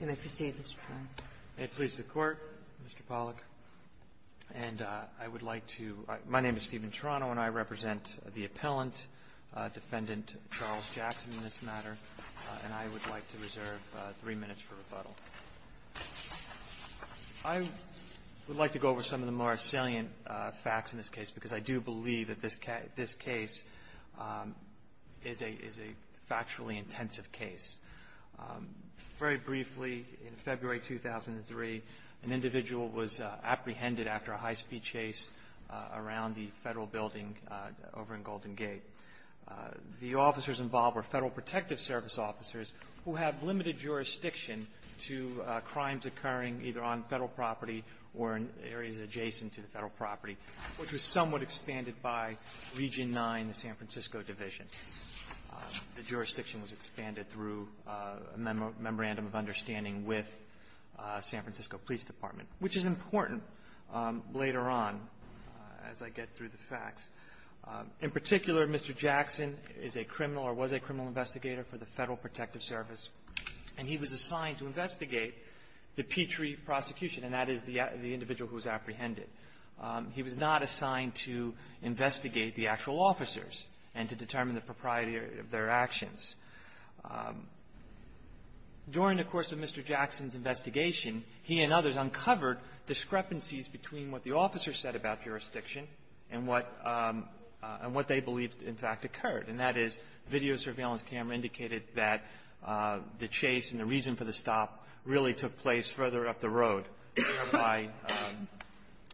You may proceed, Mr. Pollack. May it please the Court, Mr. Pollack. And I would like to – my name is Stephen Toronto, and I represent the appellant, Defendant Charles Jackson, in this matter, and I would like to reserve three minutes for rebuttal. I would like to go over some of the more salient facts in this case, because I do believe that this case is a – is a factually intensive case. Very briefly, in February 2003, an individual was apprehended after a high-speed chase around the Federal building over in Golden Gate. The officers involved were Federal Protective Service officers who have limited jurisdiction to crimes occurring either on Federal property or in areas adjacent to the Federal property, which was somewhat expanded by Region 9, the San Francisco division. The jurisdiction was expanded through a memorandum of understanding with San Francisco Police Department, which is important later on as I get through the facts. In particular, Mr. Jackson is a criminal or was a criminal investigator for the Federal Protective Service, and he was assigned to investigate the Petrie prosecution, and that is the individual who was apprehended. He was not assigned to investigate the actual officers and to determine the propriety of their actions. During the course of Mr. Jackson's investigation, he and others uncovered discrepancies between what the officers said about jurisdiction and what – and what they believed, in fact, occurred, and that is video surveillance camera indicated that the chase and the reason for the stop really took place further up the road by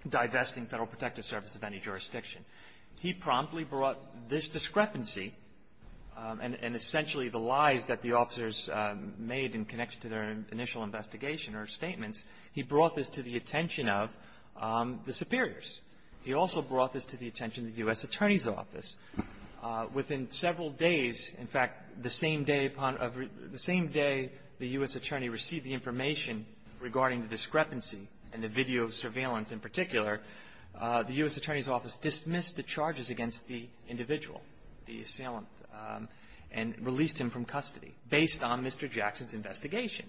divesting Federal Protective Service of any jurisdiction. He promptly brought this discrepancy, and essentially the lies that the officers made in connection to their initial investigation or statements, he brought this to the attention of the superiors. He also brought this to the attention of the U.S. Attorney's Office. Within several days, in fact, the same day upon – the same day the U.S. Attorney received the information regarding the discrepancy and the video surveillance in particular, the U.S. Attorney's Office dismissed the charges against the individual, the assailant, and released him from custody based on Mr. Jackson's investigation.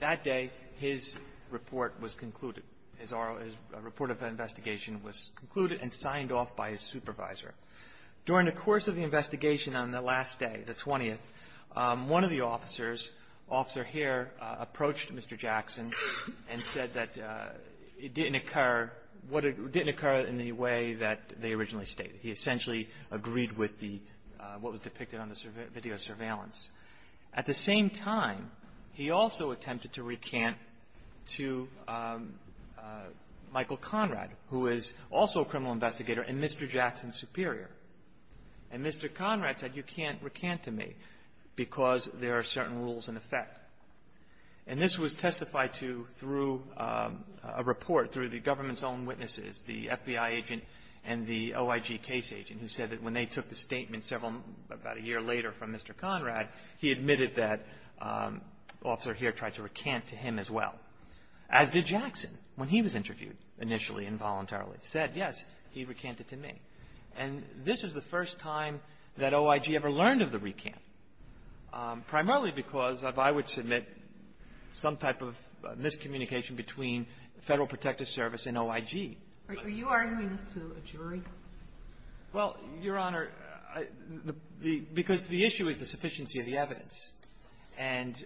That day, his report was concluded. His report of investigation was concluded and signed off by his supervisor. During the course of the investigation on the last day, the 20th, one of the officers, Officer Hare, approached Mr. Jackson and said that it didn't occur – it didn't occur in the way that they originally stated. He essentially agreed with the – what was depicted on the video surveillance. At the same time, he also attempted to recant to Michael Conrad, who is also a criminal investigator, and Mr. Jackson's superior. And Mr. Conrad said, you can't recant to me because there are certain rules in effect. And this was testified to through a report through the government's own witnesses, the FBI agent and the OIG case agent, who said that when they took the statement several – about a year later from Mr. Conrad, he admitted that Officer Hare tried to recant to him as well, as did Jackson when he was interviewed initially and voluntarily. Said, yes, he recanted to me. And this is the first time that OIG ever learned of the recant, primarily because of, I would submit, some type of miscommunication between Federal Protective Service and OIG. Are you arguing this to a jury? Well, Your Honor, the – because the issue is the sufficiency of the evidence. And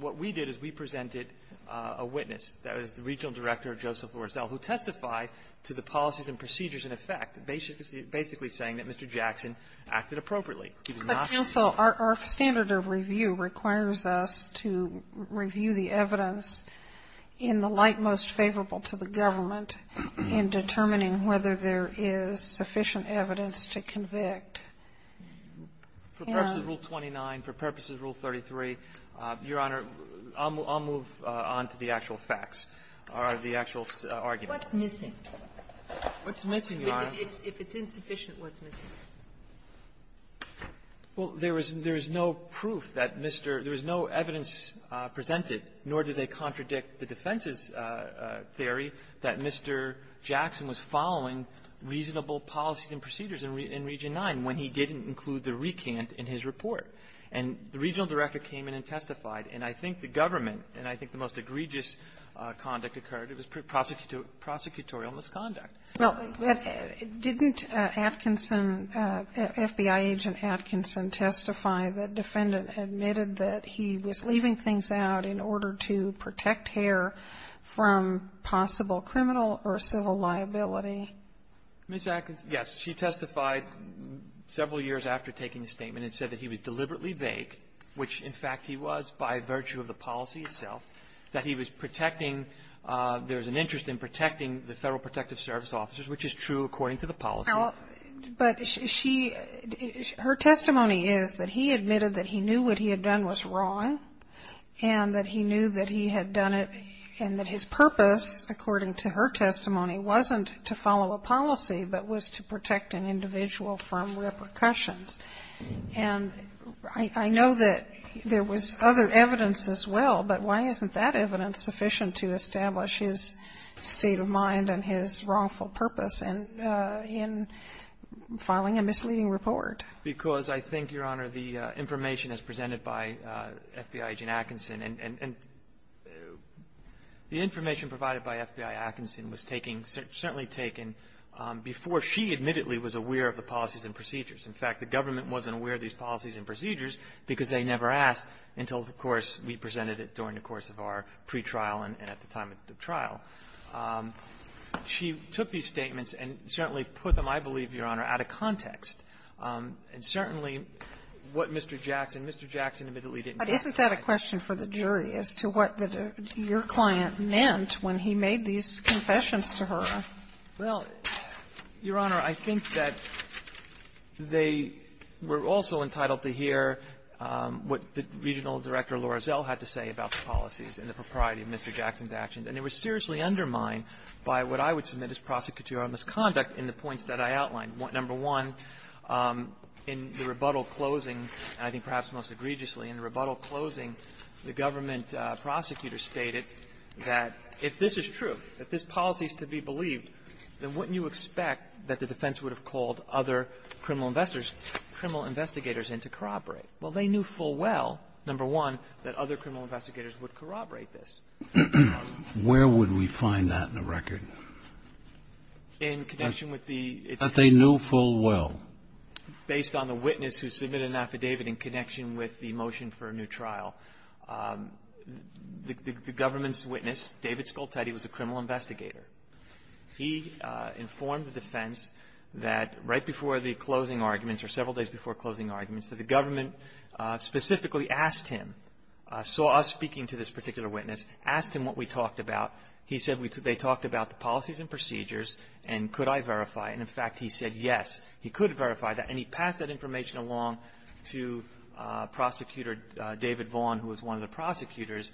what we did is we presented a witness. That was the Regional Director of Joseph Lorazel, who testified to the policies and procedures in effect, basically saying that Mr. Jackson acted appropriately. But, counsel, our standard of review requires us to review the evidence in the light most favorable to the government in determining whether there is sufficient evidence to convict. For purposes of Rule 29, for purposes of Rule 33, Your Honor, I'll move on to the actual facts or the actual argument. What's missing? What's missing, Your Honor? If it's insufficient, what's missing? Well, there is no proof that Mr. – there is no evidence presented, nor do they contradict the defense's theory that Mr. Jackson was following reasonable policies and procedures in Region 9 when he didn't include the recant in his report. And the Regional Director came in and testified. And I think the government, and I think the most egregious conduct occurred, it was prosecutorial misconduct. Well, didn't Atkinson, FBI agent Atkinson, testify that defendant admitted that he was leaving things out in order to protect hair from possible criminal or civil liability? Ms. Atkinson, yes. She testified several years after taking the statement and said that he was deliberately vague, which, in fact, he was by virtue of the policy itself, that he was protecting – there was an interest in protecting the Federal Protective Service officers, which is true according to the policy. But she – her testimony is that he admitted that he knew what he had done was wrong and that he knew that he had done it and that his purpose, according to her testimony, wasn't to follow a policy but was to protect an individual from repercussions. And I know that there was other evidence as well, but why isn't that evidence sufficient to establish his state of mind and his wrongful purpose in filing a misleading report? Because I think, Your Honor, the information as presented by FBI agent Atkinson and the information provided by FBI Atkinson was taking – certainly taken before she admittedly was aware of the policies and procedures. In fact, the government wasn't aware of these policies and procedures because they never asked until, of course, we presented it during the course of our pretrial and at the time of the trial. She took these statements and certainly put them, I believe, Your Honor, out of context. And certainly, what Mr. Jackson – Mr. Jackson admittedly didn't testify. Sotomayor, isn't that a question for the jury as to what your client meant when he made these confessions to her? Well, Your Honor, I think that they were also entitled to hear what the regional director, Laura Zell, had to say about the policies and the propriety of Mr. Jackson's actions. And they were seriously undermined by what I would submit as prosecutorial misconduct in the points that I outlined. Number one, in the rebuttal closing – and I think perhaps most egregiously in the rebuttal closing, the government prosecutor stated that if this is true, if this policy is to be believed, then wouldn't you expect that the defense would have called other criminal investigators in to corroborate? Well, they knew full well, number one, that other criminal investigators would corroborate this. Where would we find that in the record? In connection with the – That they knew full well. Based on the witness who submitted an affidavit in connection with the motion for a new trial, the government's witness, David Scoltetti, was a criminal investigator. He informed the defense that right before the closing arguments, or several days before closing arguments, that the government specifically asked him, saw us speaking to this particular witness, asked him what we talked about. He said they talked about the policies and procedures, and could I verify. And, in fact, he said yes, he could verify that. And he passed that information along to Prosecutor David Vaughn, who was one of the prosecutors.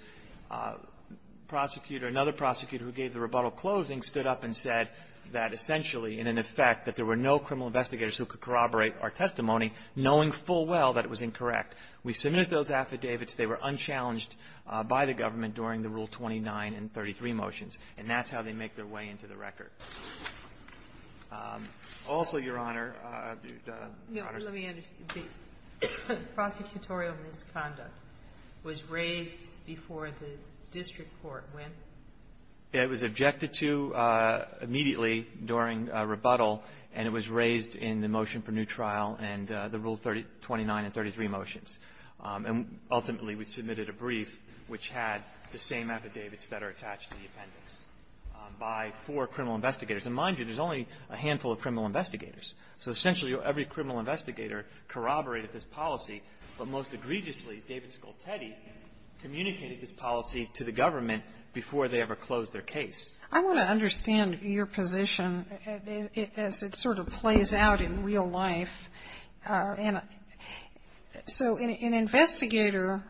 Prosecutor – another prosecutor who gave the rebuttal closing stood up and said that essentially, in effect, that there were no criminal investigators who could corroborate our testimony, knowing full well that it was incorrect. We submitted those affidavits. They were unchallenged by the government during the Rule 29 and 33 motions. And that's how they make their way into the record. Also, Your Honor – Let me understand. The prosecutorial misconduct was raised before the district court when? It was objected to immediately during rebuttal, and it was raised in the motion for new trial and the Rule 29 and 33 motions. And ultimately, we submitted a brief which had the same affidavits that are attached to the appendix by four criminal investigators. And mind you, there's only a handful of criminal investigators. So essentially, every criminal investigator corroborated this policy, but most egregiously, David Scoltetti communicated this policy to the government before they ever closed their case. I want to understand your position as it sort of plays out in real life. So an investigator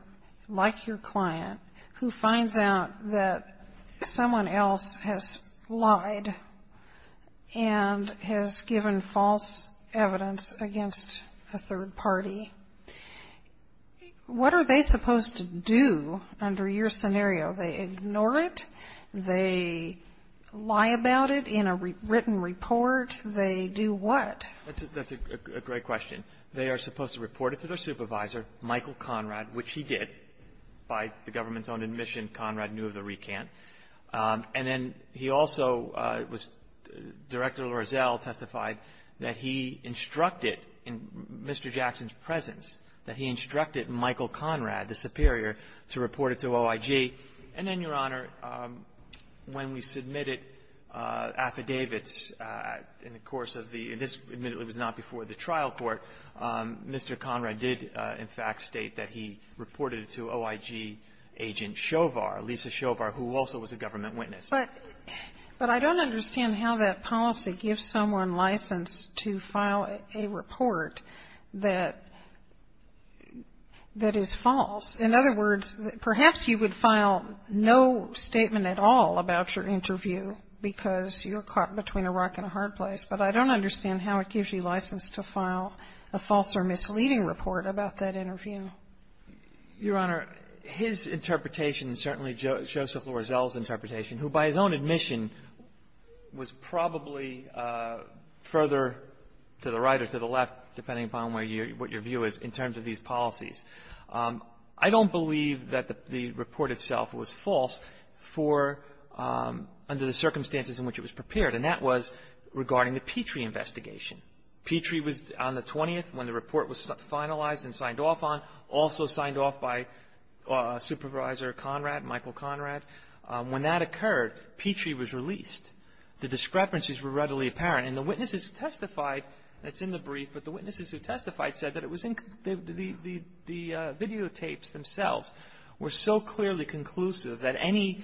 like your client who finds out that someone else has lied and has given false evidence against a third party, what are they supposed to do under your supervision? Do they lie about it in a written report? They do what? That's a great question. They are supposed to report it to their supervisor, Michael Conrad, which he did. By the government's own admission, Conrad knew of the recant. And then he also was – Director Lorazel testified that he instructed in Mr. Jackson's presence that he instructed Michael Conrad, the superior, to report it to OIG. And then, Your Honor, he submitted affidavits in the course of the – and this, admittedly, was not before the trial court. Mr. Conrad did, in fact, state that he reported it to OIG agent Shovar, Lisa Shovar, who also was a government witness. But I don't understand how that policy gives someone license to file a report that is false. In other words, perhaps you would file no statement at all about your interview because you're caught between a rock and a hard place. But I don't understand how it gives you license to file a false or misleading report about that interview. Your Honor, his interpretation, and certainly Joseph Lorazel's interpretation, who, by his own admission, was probably further to the right or to the left, depending upon where you – what your view is in terms of these policies. I don't believe that the report itself was false for – under the circumstances in which it was prepared. And that was regarding the Petrie investigation. Petrie was on the 20th, when the report was finalized and signed off on, also signed off by Supervisor Conrad, Michael Conrad. When that occurred, Petrie was released. The discrepancies were readily apparent. And the witnesses who testified – that's in the brief, but the witnesses who testified said that it was in – the videotapes themselves – were so clearly conclusive that any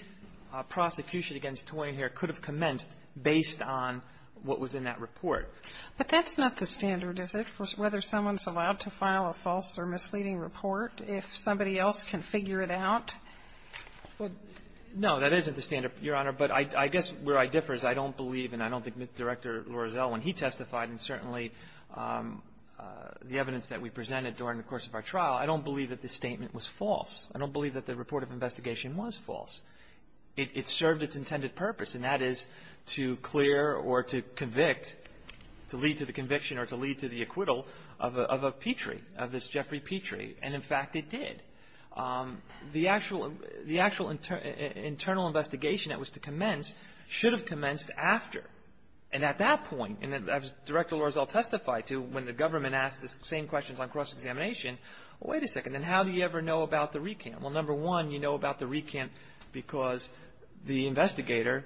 prosecution against Toyinher could have commenced based on what was in that report. But that's not the standard, is it, for whether someone's allowed to file a false or misleading report if somebody else can figure it out? Well, no, that isn't the standard, Your Honor. But I guess where I differ is I don't believe, and I don't think Director Lorazel, when he testified, and certainly the evidence that we presented during the course of our trial, I don't believe that this statement was false. I don't believe that the report of investigation was false. It served its intended purpose, and that is to clear or to convict, to lead to the conviction or to lead to the acquittal of a Petrie, of this Jeffrey Petrie. And, in fact, it did. The actual – the actual internal investigation that was to commence should have commenced after. And at that point, and as Director Lorazel testified to, when the Well, wait a second. And how do you ever know about the recant? Well, number one, you know about the recant because the investigator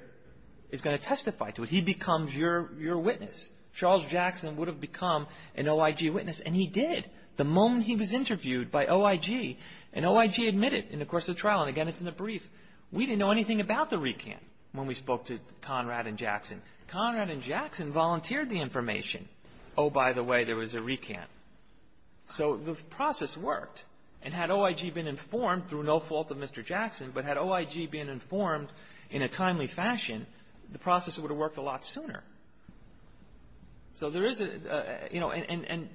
is going to testify to it. He becomes your witness. Charles Jackson would have become an OIG witness, and he did the moment he was interviewed by OIG. And OIG admitted in the course of the trial, and again, it's in the brief, we didn't know anything about the recant when we spoke to Conrad and Jackson. Conrad and Jackson volunteered the information. Oh, by the way, there was a recant. So the process worked. And had OIG been informed, through no fault of Mr. Jackson, but had OIG been informed in a timely fashion, the process would have worked a lot sooner. So there is a – you know, and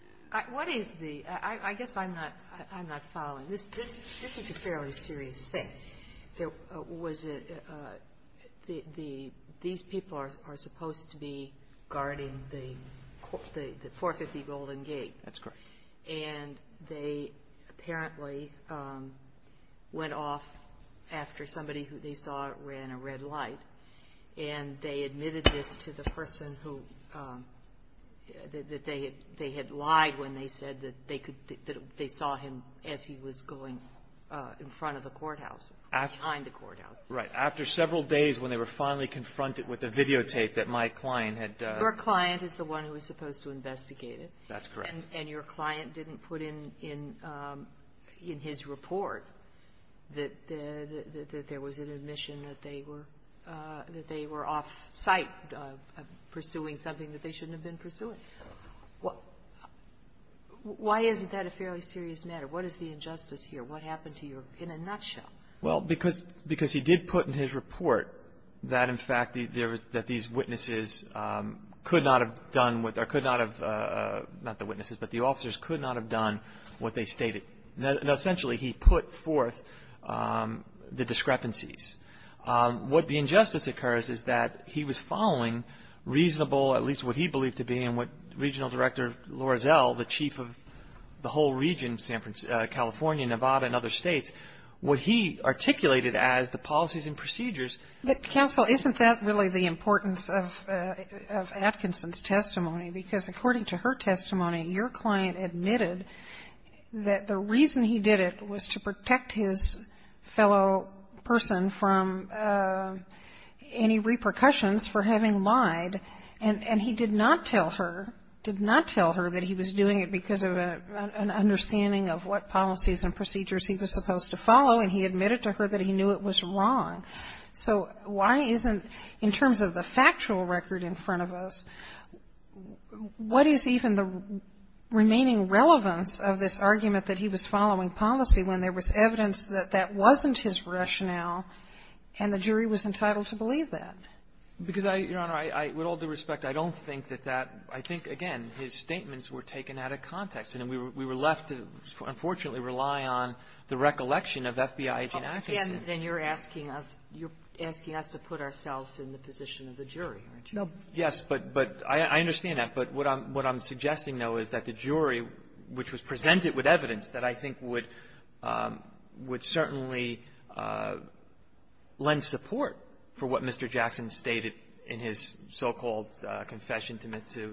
– What is the – I guess I'm not – I'm not following. This is a fairly serious thing. There was a – the – these people are supposed to be guarding the 450 Golden Gate. That's correct. And they apparently went off after somebody who they saw ran a red light, and they admitted this to the person who – that they had lied when they said that they saw him as he was going in front of the courthouse, behind the courthouse. Right. After several days when they were finally confronted with the videotape that my client had – Your client is the one who was supposed to investigate it. That's correct. And your client didn't put in – in his report that there was an admission that they were – that they were off-site pursuing something that they shouldn't have been pursuing. Correct. Why isn't that a fairly serious matter? What is the injustice here? What happened to your – in a nutshell? Well, because – because he did put in his report that, in fact, there was – that these witnesses could not have done what – or could not have – not the witnesses, but the officers could not have done what they stated. Now, essentially, he put forth the discrepancies. What the injustice occurs is that he was following reasonable, at least what he believed to be and what Regional Director Lorazel, the chief of the whole region, San – California, Nevada, and other states, what he articulated as the policies and procedures. But, counsel, isn't that really the importance of – of Atkinson's testimony? Because according to her testimony, your client admitted that the reason he did it was to protect his fellow person from any repercussions for having lied, and – and he did not tell her – did not tell her that he was doing it because of an – an understanding of what policies and procedures he was supposed to follow, and he admitted to her that he knew it was wrong. So why isn't – in terms of the factual record in front of us, what is even the remaining relevance of this argument that he was following policy when there was evidence that that wasn't his rationale and the jury was entitled to believe that? Because I – Your Honor, I – with all due respect, I don't think that that – I think, again, his statements were taken out of context, and we were – we were left to, unfortunately, rely on the recollection of FBI Gene Atkinson. And then you're asking us – you're asking us to put ourselves in the position of the jury, aren't you? Yes, but – but I – I understand that. But what I'm – what I'm suggesting, though, is that the jury, which was presented with evidence that I think would – would certainly lend support for what Mr. Jackson stated in his so-called confession to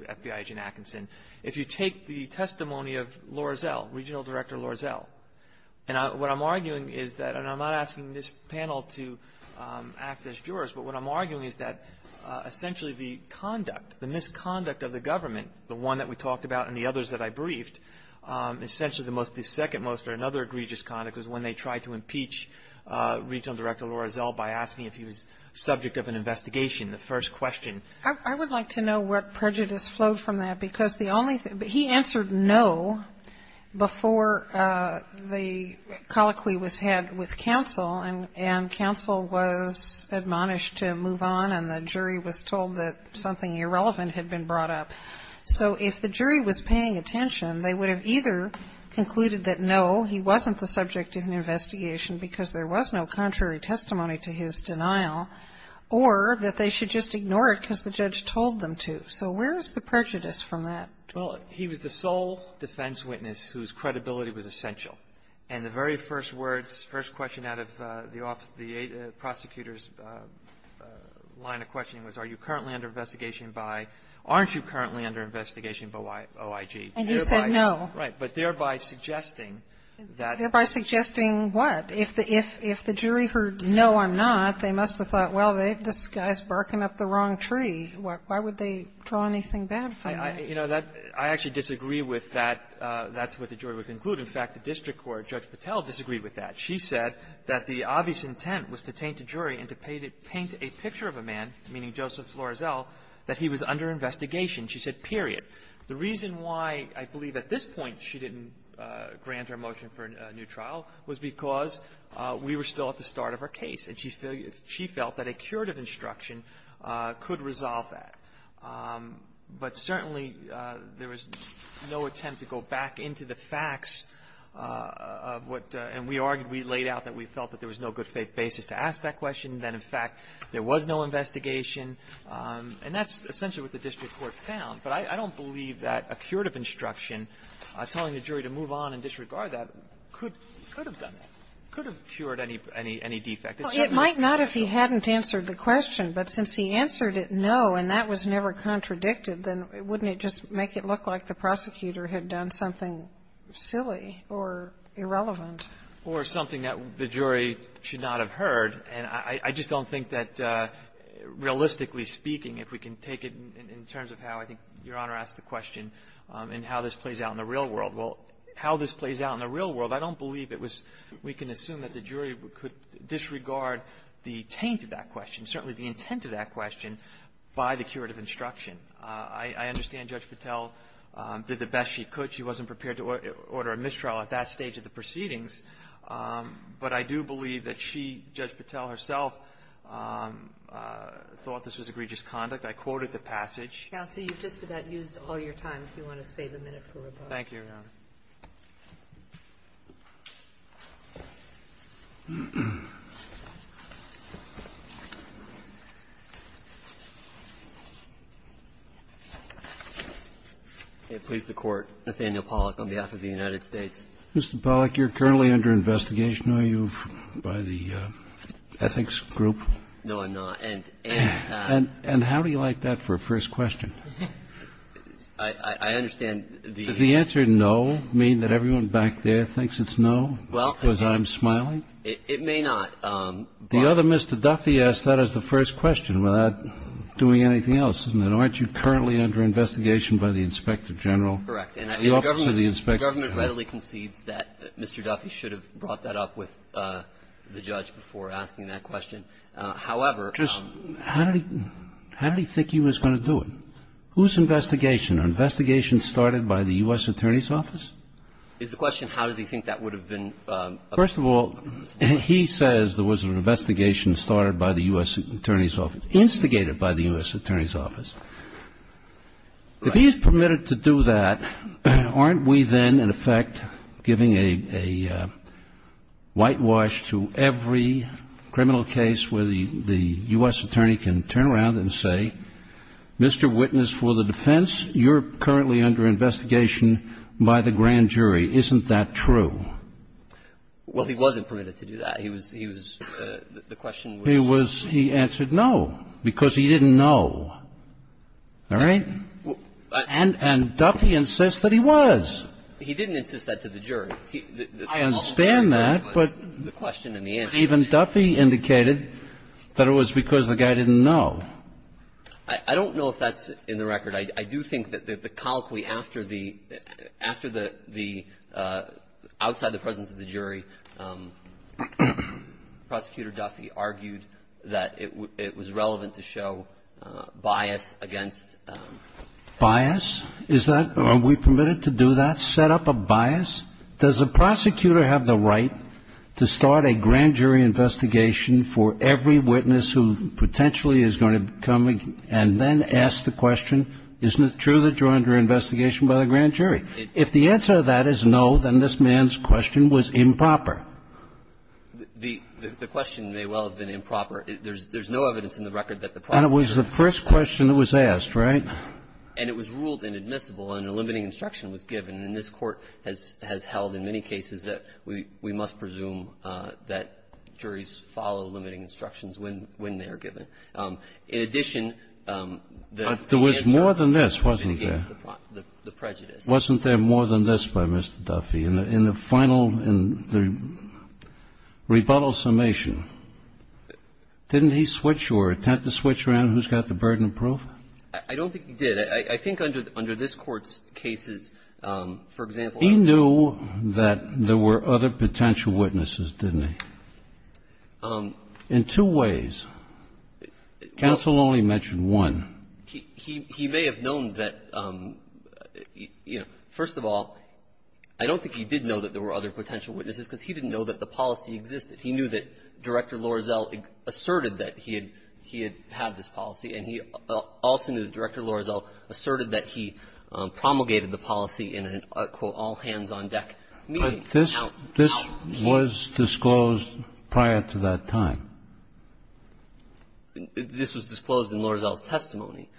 FBI Gene Atkinson, if you take the testimony of Lorazel, Regional Director Lorazel, and what I'm arguing is that – and I'm not asking this panel to act as jurors, but what I'm arguing is that, essentially, the conduct, the misconduct of the government, the one that we talked about and the others that I briefed, essentially the most – the second most or another egregious conduct was when they tried to impeach Regional Director Lorazel by asking if he was subject of an investigation, the first question. I would like to know what prejudice flowed from that, because the only – he answered no before the colloquy was had with counsel, and counsel was admonished to move on, and the jury was told that something irrelevant had been brought up. So if the jury was paying attention, they would have either concluded that no, he wasn't the subject of an investigation because there was no contrary testimony to his denial, or that they should just ignore it because the judge told them to. So where is the prejudice from that? Well, he was the sole defense witness whose credibility was essential. And the very first words, first question out of the prosecutor's line of questioning was, are you currently under investigation by – aren't you currently under investigation by OIG? And he said no. Right. But thereby suggesting that – Thereby suggesting what? If the jury heard no, I'm not, they must have thought, well, this guy's barking up the wrong tree. Why would they draw anything bad from that? You know, that – I actually disagree with that. That's what the jury would conclude. In fact, the district court, Judge Patel, disagreed with that. She said that the obvious intent was to taint a jury and to paint a picture of a man, meaning Joseph Lorazel, that he was under investigation. She said period. The reason why I believe at this point she didn't grant her motion for a new trial was because we were still at the start of her case, and she felt that a curative instruction could resolve that. But certainly, there was no attempt to go back into the facts of what – and we argued, we laid out that we felt that there was no good faith basis to ask that question, that, in fact, there was no investigation. And that's essentially what the district court found. But I don't believe that a curative instruction telling the jury to move on and disregard that could have done that, could have cured any defect. It's not going to correct it. Well, it might not if he hadn't answered the question. But since he answered it, no, and that was never contradicted, then wouldn't it just make it look like the prosecutor had done something silly or irrelevant? Or something that the jury should not have heard. And I just don't think that, realistically speaking, if we can take it in terms of how, I think, Your Honor asked the question, and how this plays out in the real world, well, how this plays out in the real world, I don't believe it was – we can assume that the jury could disregard the taint of that question, certainly the intent of that question, by the curative instruction. I understand Judge Patel did the best she could. She wasn't prepared to order a mistrial at that stage of the proceedings. But I do believe that she, Judge Patel herself, thought this was egregious conduct. I quoted the passage. Counsel, you've just about used all your time. If you want to save a minute for rebuttal. Thank you, Your Honor. Please, the Court. Nathaniel Pollack, on behalf of the United States. Mr. Pollack, you're currently under investigation, are you, by the ethics group? No, I'm not. And how do you like that for a first question? I understand the – Does the answer no mean that everyone back there thinks it's no, because I'm smiling? It may not. The other Mr. Duffy asked that as the first question, without doing anything else, isn't it? Aren't you currently under investigation by the Inspector General? Correct. And the government readily concedes that Mr. Duffy should have brought that up with the judge before asking that question. However, How did he think he was going to do it? Whose investigation? An investigation started by the U.S. Attorney's Office? Is the question how does he think that would have been? First of all, he says there was an investigation started by the U.S. Attorney's Office, instigated by the U.S. Attorney's Office. If he is permitted to do that, aren't we then, in effect, giving a whitewash to every criminal case where the U.S. Attorney can turn around and say, Mr. Witness, for the defense, you're currently under investigation by the grand jury. Isn't that true? Well, he wasn't permitted to do that. He was – he was – the question was – He was – he answered no, because he didn't know. All right? And Duffy insists that he was. He didn't insist that to the jury. I understand that, but – The question and the answer. Even Duffy indicated that it was because the guy didn't know. I don't know if that's in the record. I do think that the colloquy after the – after the – the – outside the presence of the jury, Prosecutor Duffy argued that it was relevant to show bias against – Bias? Is that – are we permitted to do that, set up a bias? Does the prosecutor have the right to start a grand jury investigation for every witness who potentially is going to come and then ask the question, isn't it true that you're under investigation by the grand jury? If the answer to that is no, then this man's question was improper. The – the question may well have been improper. There's – there's no evidence in the record that the prosecutor – And it was the first question that was asked, right? And it was ruled inadmissible, and a limiting instruction was given. And this Court has – has held in many cases that we – we must presume that juries follow limiting instructions when – when they are given. In addition, the answer to the question against the prejudice – But there was more than this, wasn't there? Wasn't there more than this by Mr. Duffy? In the final – in the rebuttal summation, didn't he switch or attempt to switch around who's got the burden of proof? I don't think he did. I think under – under this Court's cases, for example, I don't think he did. He knew that there were other potential witnesses, didn't he, in two ways? Counsel only mentioned one. He – he may have known that, you know, first of all, I don't think he did know that there were other potential witnesses because he didn't know that the policy existed. He knew that Director Lorazel asserted that he had – he had had this policy, and he also knew that Director Lorazel asserted that he promulgated the policy in a, quote, all-hands-on-deck meeting. But this – this was disclosed prior to that time. This was disclosed in Lorazel's testimony.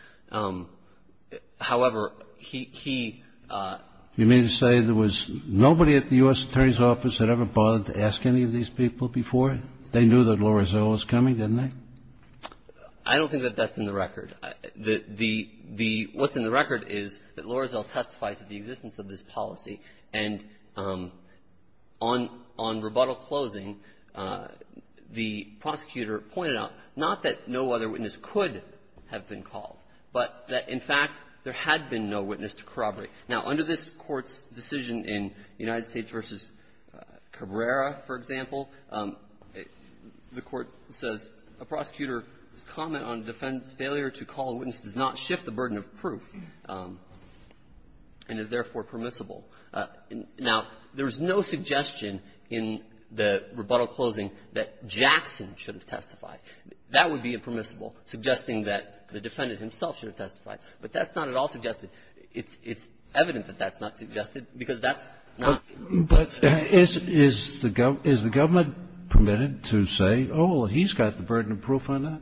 However, he – he – You mean to say there was nobody at the U.S. Attorney's Office that ever bothered to ask any of these people before? They knew that Lorazel was coming, didn't they? I don't think that that's in the record. The – the – what's in the record is that Lorazel testified to the existence of this policy, and on – on rebuttal closing, the prosecutor pointed out not that no other witness could have been called, but that, in fact, there had been no witness to corroborate. Now, under this Court's decision in United States v. Cabrera, for example, the Court says a prosecutor's comment on defendant's failure to call a witness does not shift the burden of proof and is, therefore, permissible. Now, there's no suggestion in the rebuttal closing that Jackson should have testified. That would be impermissible, suggesting that the defendant himself should have testified. But that's not at all suggested. It's – it's evident that that's not suggested, because that's not. But is – is the government permitted to say, oh, he's got the burden of proof on that?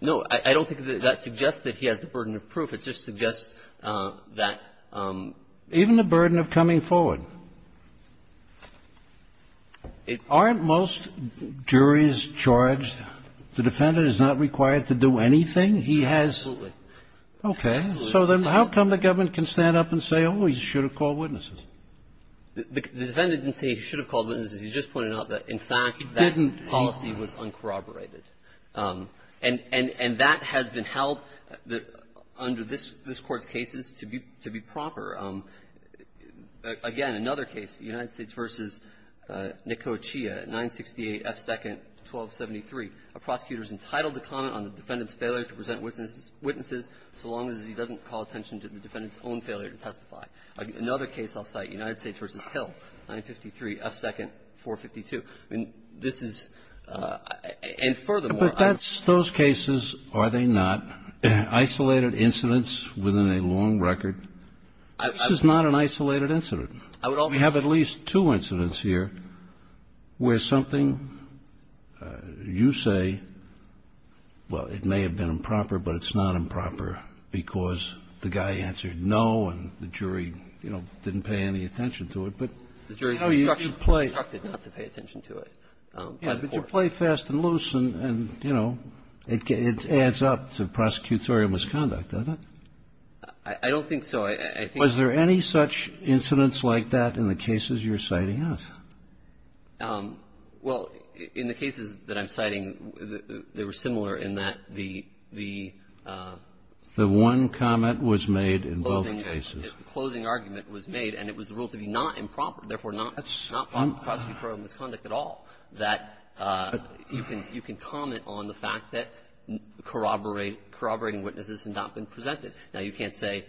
No. I don't think that that suggests that he has the burden of proof. It just suggests that the – Even the burden of coming forward. It – Aren't most juries charged, the defendant is not required to do anything? He has – Absolutely. Okay. So then how come the government can stand up and say, oh, he should have called witnesses? The defendant didn't say he should have called witnesses. He just pointed out that, in fact, that policy was uncorroborated. And – and that has been held under this – this Court's cases to be – to be proper. Again, another case, the United States v. Nikochia, 968 F. 2nd, 1273, a prosecutor is entitled to comment on the defendant's failure to present witnesses so long as he doesn't call attention to the defendant's own failure to testify. Another case I'll cite, United States v. Hill, 953 F. 2nd, 452. I mean, this is – and furthermore, I'm – But that's – those cases, are they not isolated incidents within a long record? This is not an isolated incident. I would also – We have at least two incidents here where something you say, well, it may have been improper, but it's not improper, because the guy answered no and the jury, you know, didn't pay any attention to it. But how do you play – The jury instructed not to pay attention to it by the court. But you play fast and loose and, you know, it adds up to prosecutorial misconduct, doesn't it? I don't think so. I think – Was there any such incidents like that in the cases you're citing us? Well, in the cases that I'm citing, they were similar in that the – the – The one comment was made in both cases. The closing argument was made, and it was ruled to be not improper, therefore not – not improper prosecutorial misconduct at all, that you can – you can comment on the fact that corroborating witnesses had not been presented. Now, you can't say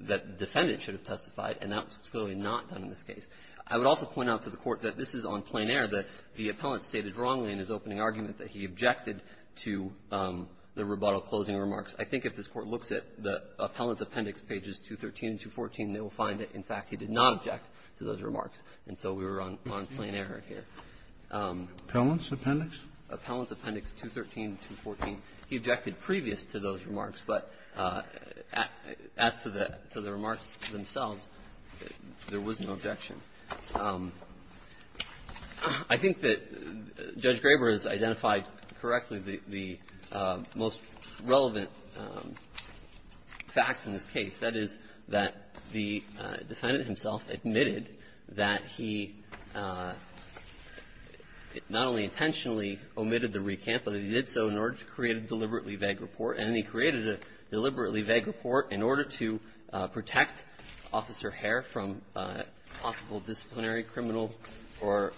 that the defendant should have testified, and that's clearly not done in this case. I would also point out to the Court that this is on plain error, that the appellant stated wrongly in his opening argument that he objected to the rebuttal closing remarks. I think if this Court looks at the appellant's appendix, pages 213 and 214, they will find that, in fact, he did not object to those remarks. And so we're on – on plain error here. Appellant's appendix? Appellant's appendix 213 and 214. He objected previous to those remarks, but as to the – to the remarks themselves, there was no objection. I think that Judge Graber has identified correctly the most relevant facts in this case, that is, that the defendant himself admitted that he not only intentionally omitted the recant, but that he did so in order to create a deliberately vague report, and he created a deliberately vague report in order to protect Officer Herr from possible disciplinary, criminal, or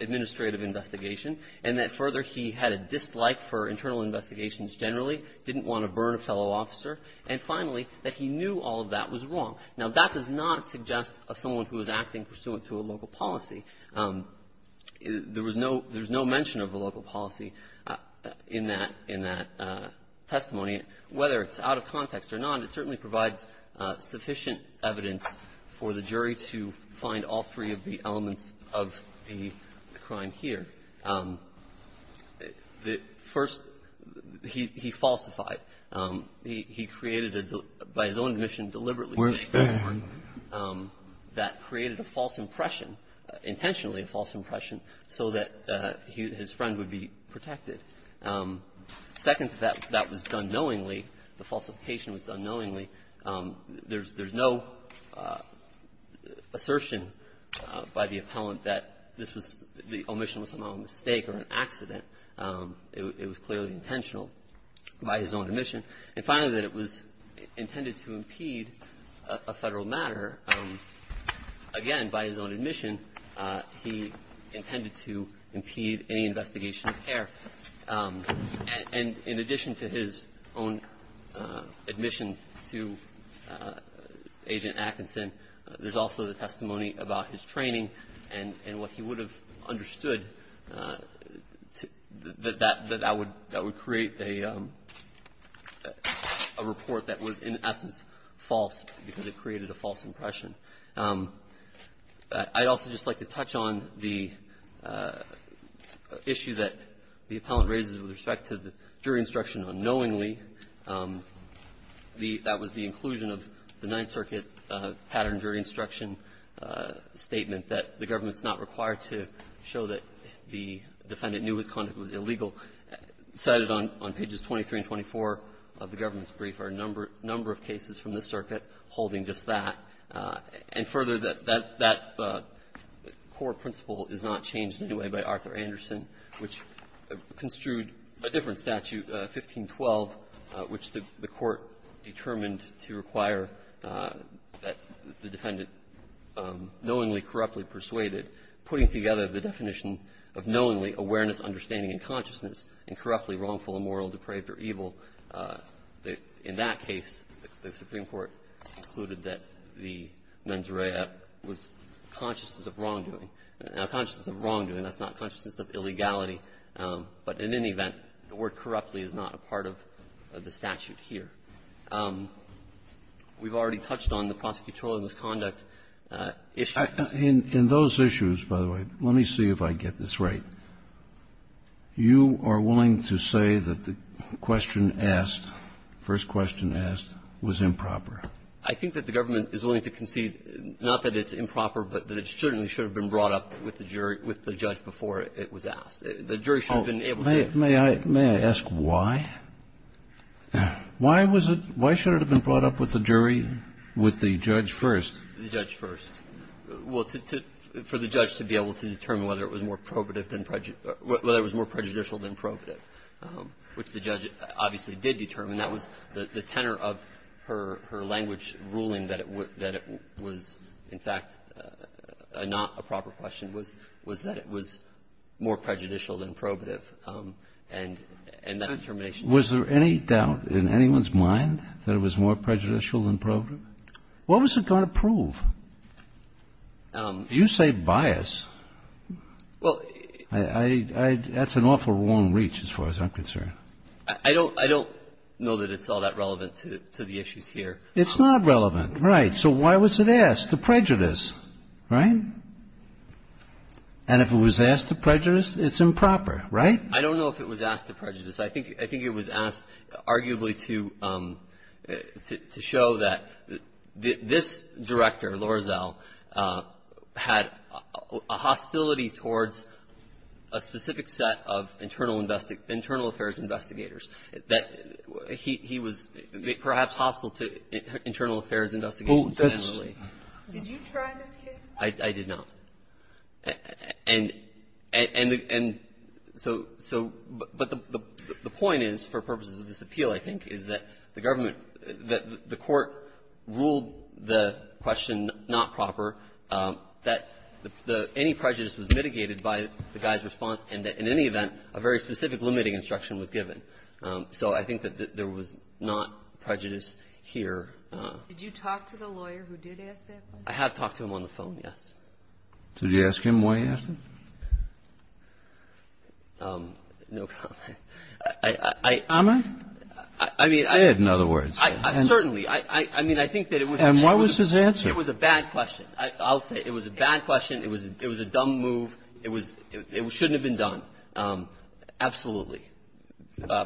administrative investigation, and that, further, he had a dislike for internal investigations generally, didn't want to burn a fellow officer, and, finally, that he knew all of that was wrong. Now, that does not suggest of someone who was acting pursuant to a local policy. There was no – there's no mention of a local policy in that – in that testimony. Whether it's out of context or not, it certainly provides sufficient evidence for the jury to find all three of the elements of the crime here. First, he falsified. He created, by his own admission, a deliberately vague report that created a false impression, intentionally a false impression, so that his friend would be protected. Second, that was done knowingly. The falsification was done knowingly. There's no assertion by the appellant that this was – the omission was somehow a mistake or an accident. It was clearly intentional by his own admission. And finally, that it was intended to impede a Federal matter. Again, by his own admission, he intended to impede any investigation of care. And in addition to his own admission to Agent Atkinson, there's also the testimony about his training and what he would have understood that that would – that would be a report that was, in essence, false because it created a false impression. I'd also just like to touch on the issue that the appellant raises with respect to the jury instruction unknowingly. The – that was the inclusion of the Ninth Circuit pattern jury instruction statement that the government's not required to show that the defendant knew his conduct was illegal. Cited on – on pages 23 and 24 of the government's brief are a number – number of cases from the circuit holding just that. And further, that – that core principle is not changed in any way by Arthur Anderson, which construed a different statute, 1512, which the court determined to require that the defendant knowingly, corruptly persuaded, putting together the definition of knowingly, awareness, understanding, and consciousness, and corruptly, wrongful, immoral, depraved, or evil. In that case, the Supreme Court concluded that the mens rea was conscious of wrongdoing. Now, consciousness of wrongdoing, that's not consciousness of illegality. But in any event, the word corruptly is not a part of the statute here. We've already touched on the prosecutorial misconduct issues. In those issues, by the way, let me see if I get this right. You are willing to say that the question asked, the first question asked, was improper. I think that the government is willing to concede, not that it's improper, but that it certainly should have been brought up with the jury – with the judge before it was asked. The jury should have been able to do that. May I – may I ask why? Why was it – why should it have been brought up with the jury, with the judge first? The judge first. Well, to – for the judge to be able to determine whether it was more probative than – whether it was more prejudicial than probative, which the judge obviously did determine. That was the tenor of her language ruling that it was, in fact, not a proper question, was that it was more prejudicial than probative. And that determination was used. Was there any doubt in anyone's mind that it was more prejudicial than probative? What was it going to prove? You say bias. Well, I – I – that's an awful long reach as far as I'm concerned. I don't – I don't know that it's all that relevant to the issues here. It's not relevant, right. So why was it asked? To prejudice, right? And if it was asked to prejudice, it's improper, right? I don't know if it was asked to prejudice. I think – I think it was asked arguably to – to show that this director, Lorazel, had a hostility towards a specific set of internal – internal affairs investigators, that he was perhaps hostile to internal affairs investigations generally. Did you try this case? I did not. And – and – and so – so – but the – the point is, for purposes of this appeal, I think, is that the government – that the court ruled the question not proper, that the – any prejudice was mitigated by the guy's response, and that in any event, a very specific limiting instruction was given. So I think that there was not prejudice here. Did you talk to the lawyer who did ask that question? I have talked to him on the phone, yes. So did you ask him why he asked it? No comment. I – I – I – I – I – I – I mean, I – You did, in other words. I – I – certainly. I – I mean, I think that it was a bad question. And what was his answer? I'll say it was a bad question. It was a – it was a dumb move. It was – it shouldn't have been done. Absolutely.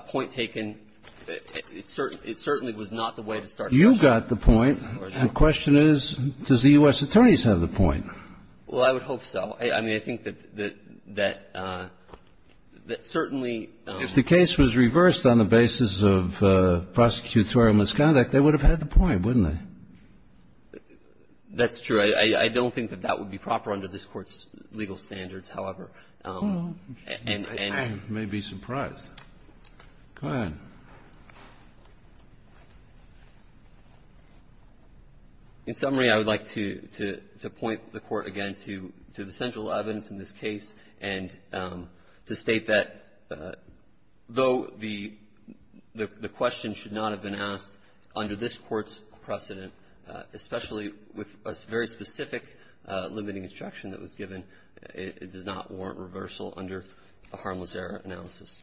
Point taken. It certainly was not the way to start the question. You got the point. The question is, does the U.S. attorneys have the point? Well, I would hope so. I mean, I think that – that – that certainly – If the case was reversed on the basis of prosecutorial misconduct, they would have had the point, wouldn't they? That's true. I don't think that that would be proper under this Court's legal standards, however. And – and – I may be surprised. Go ahead. In summary, I would like to – to – to point the Court, again, to – to the central evidence in this case and to state that, though the – the – the question should not have been asked under this Court's precedent, especially with a very specific limiting instruction that was given, it does not warrant reversal under a harmless error analysis.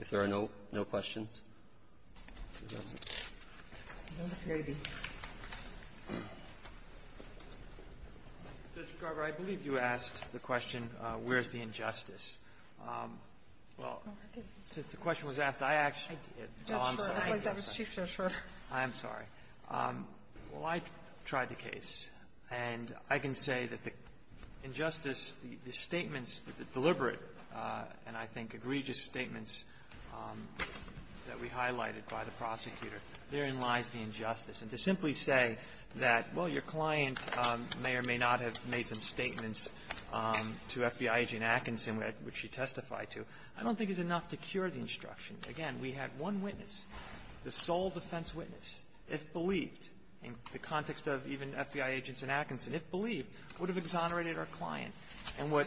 If there are no – no questions? No, Mr. Garber, I believe you asked the question, where's the injustice? Well, since the question was asked, I actually did. Oh, I'm sorry. I'm sorry. I'm sorry. I'm sorry. Well, I tried the case, and I can say that the injustice, the statements, the deliberate, and I think egregious statements that we highlighted by the prosecutor, therein lies the injustice. And to simply say that, well, your client may or may not have made some statements to FBI agent Atkinson, which she testified to, I don't think is enough to cure the instruction. Again, we had one witness, the sole defense witness, if believed, in the context of even FBI agents in Atkinson, if believed, would have exonerated our client. And what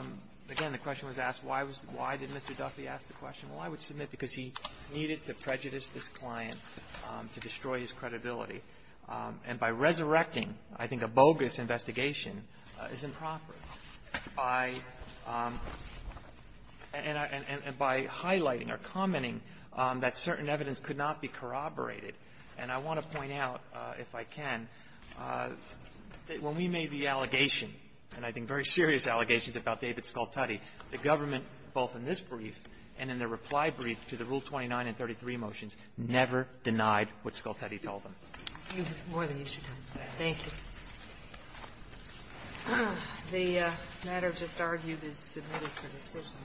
– again, the question was asked, why was – why did Mr. Duffy ask the question? Well, I would submit because he needed to prejudice this client to destroy his credibility. And by resurrecting, I think a bogus investigation is improper. By – and by highlighting or commenting that certain evidence could not be corroborated. And I want to point out, if I can, that when we made the allegation, and I think very serious allegations about David Scoltetti, the government, both in this brief and in the reply brief to the Rule 29 and 33 motions, never denied what Scoltetti told them. Thank you. The matter just argued is submitted for decision.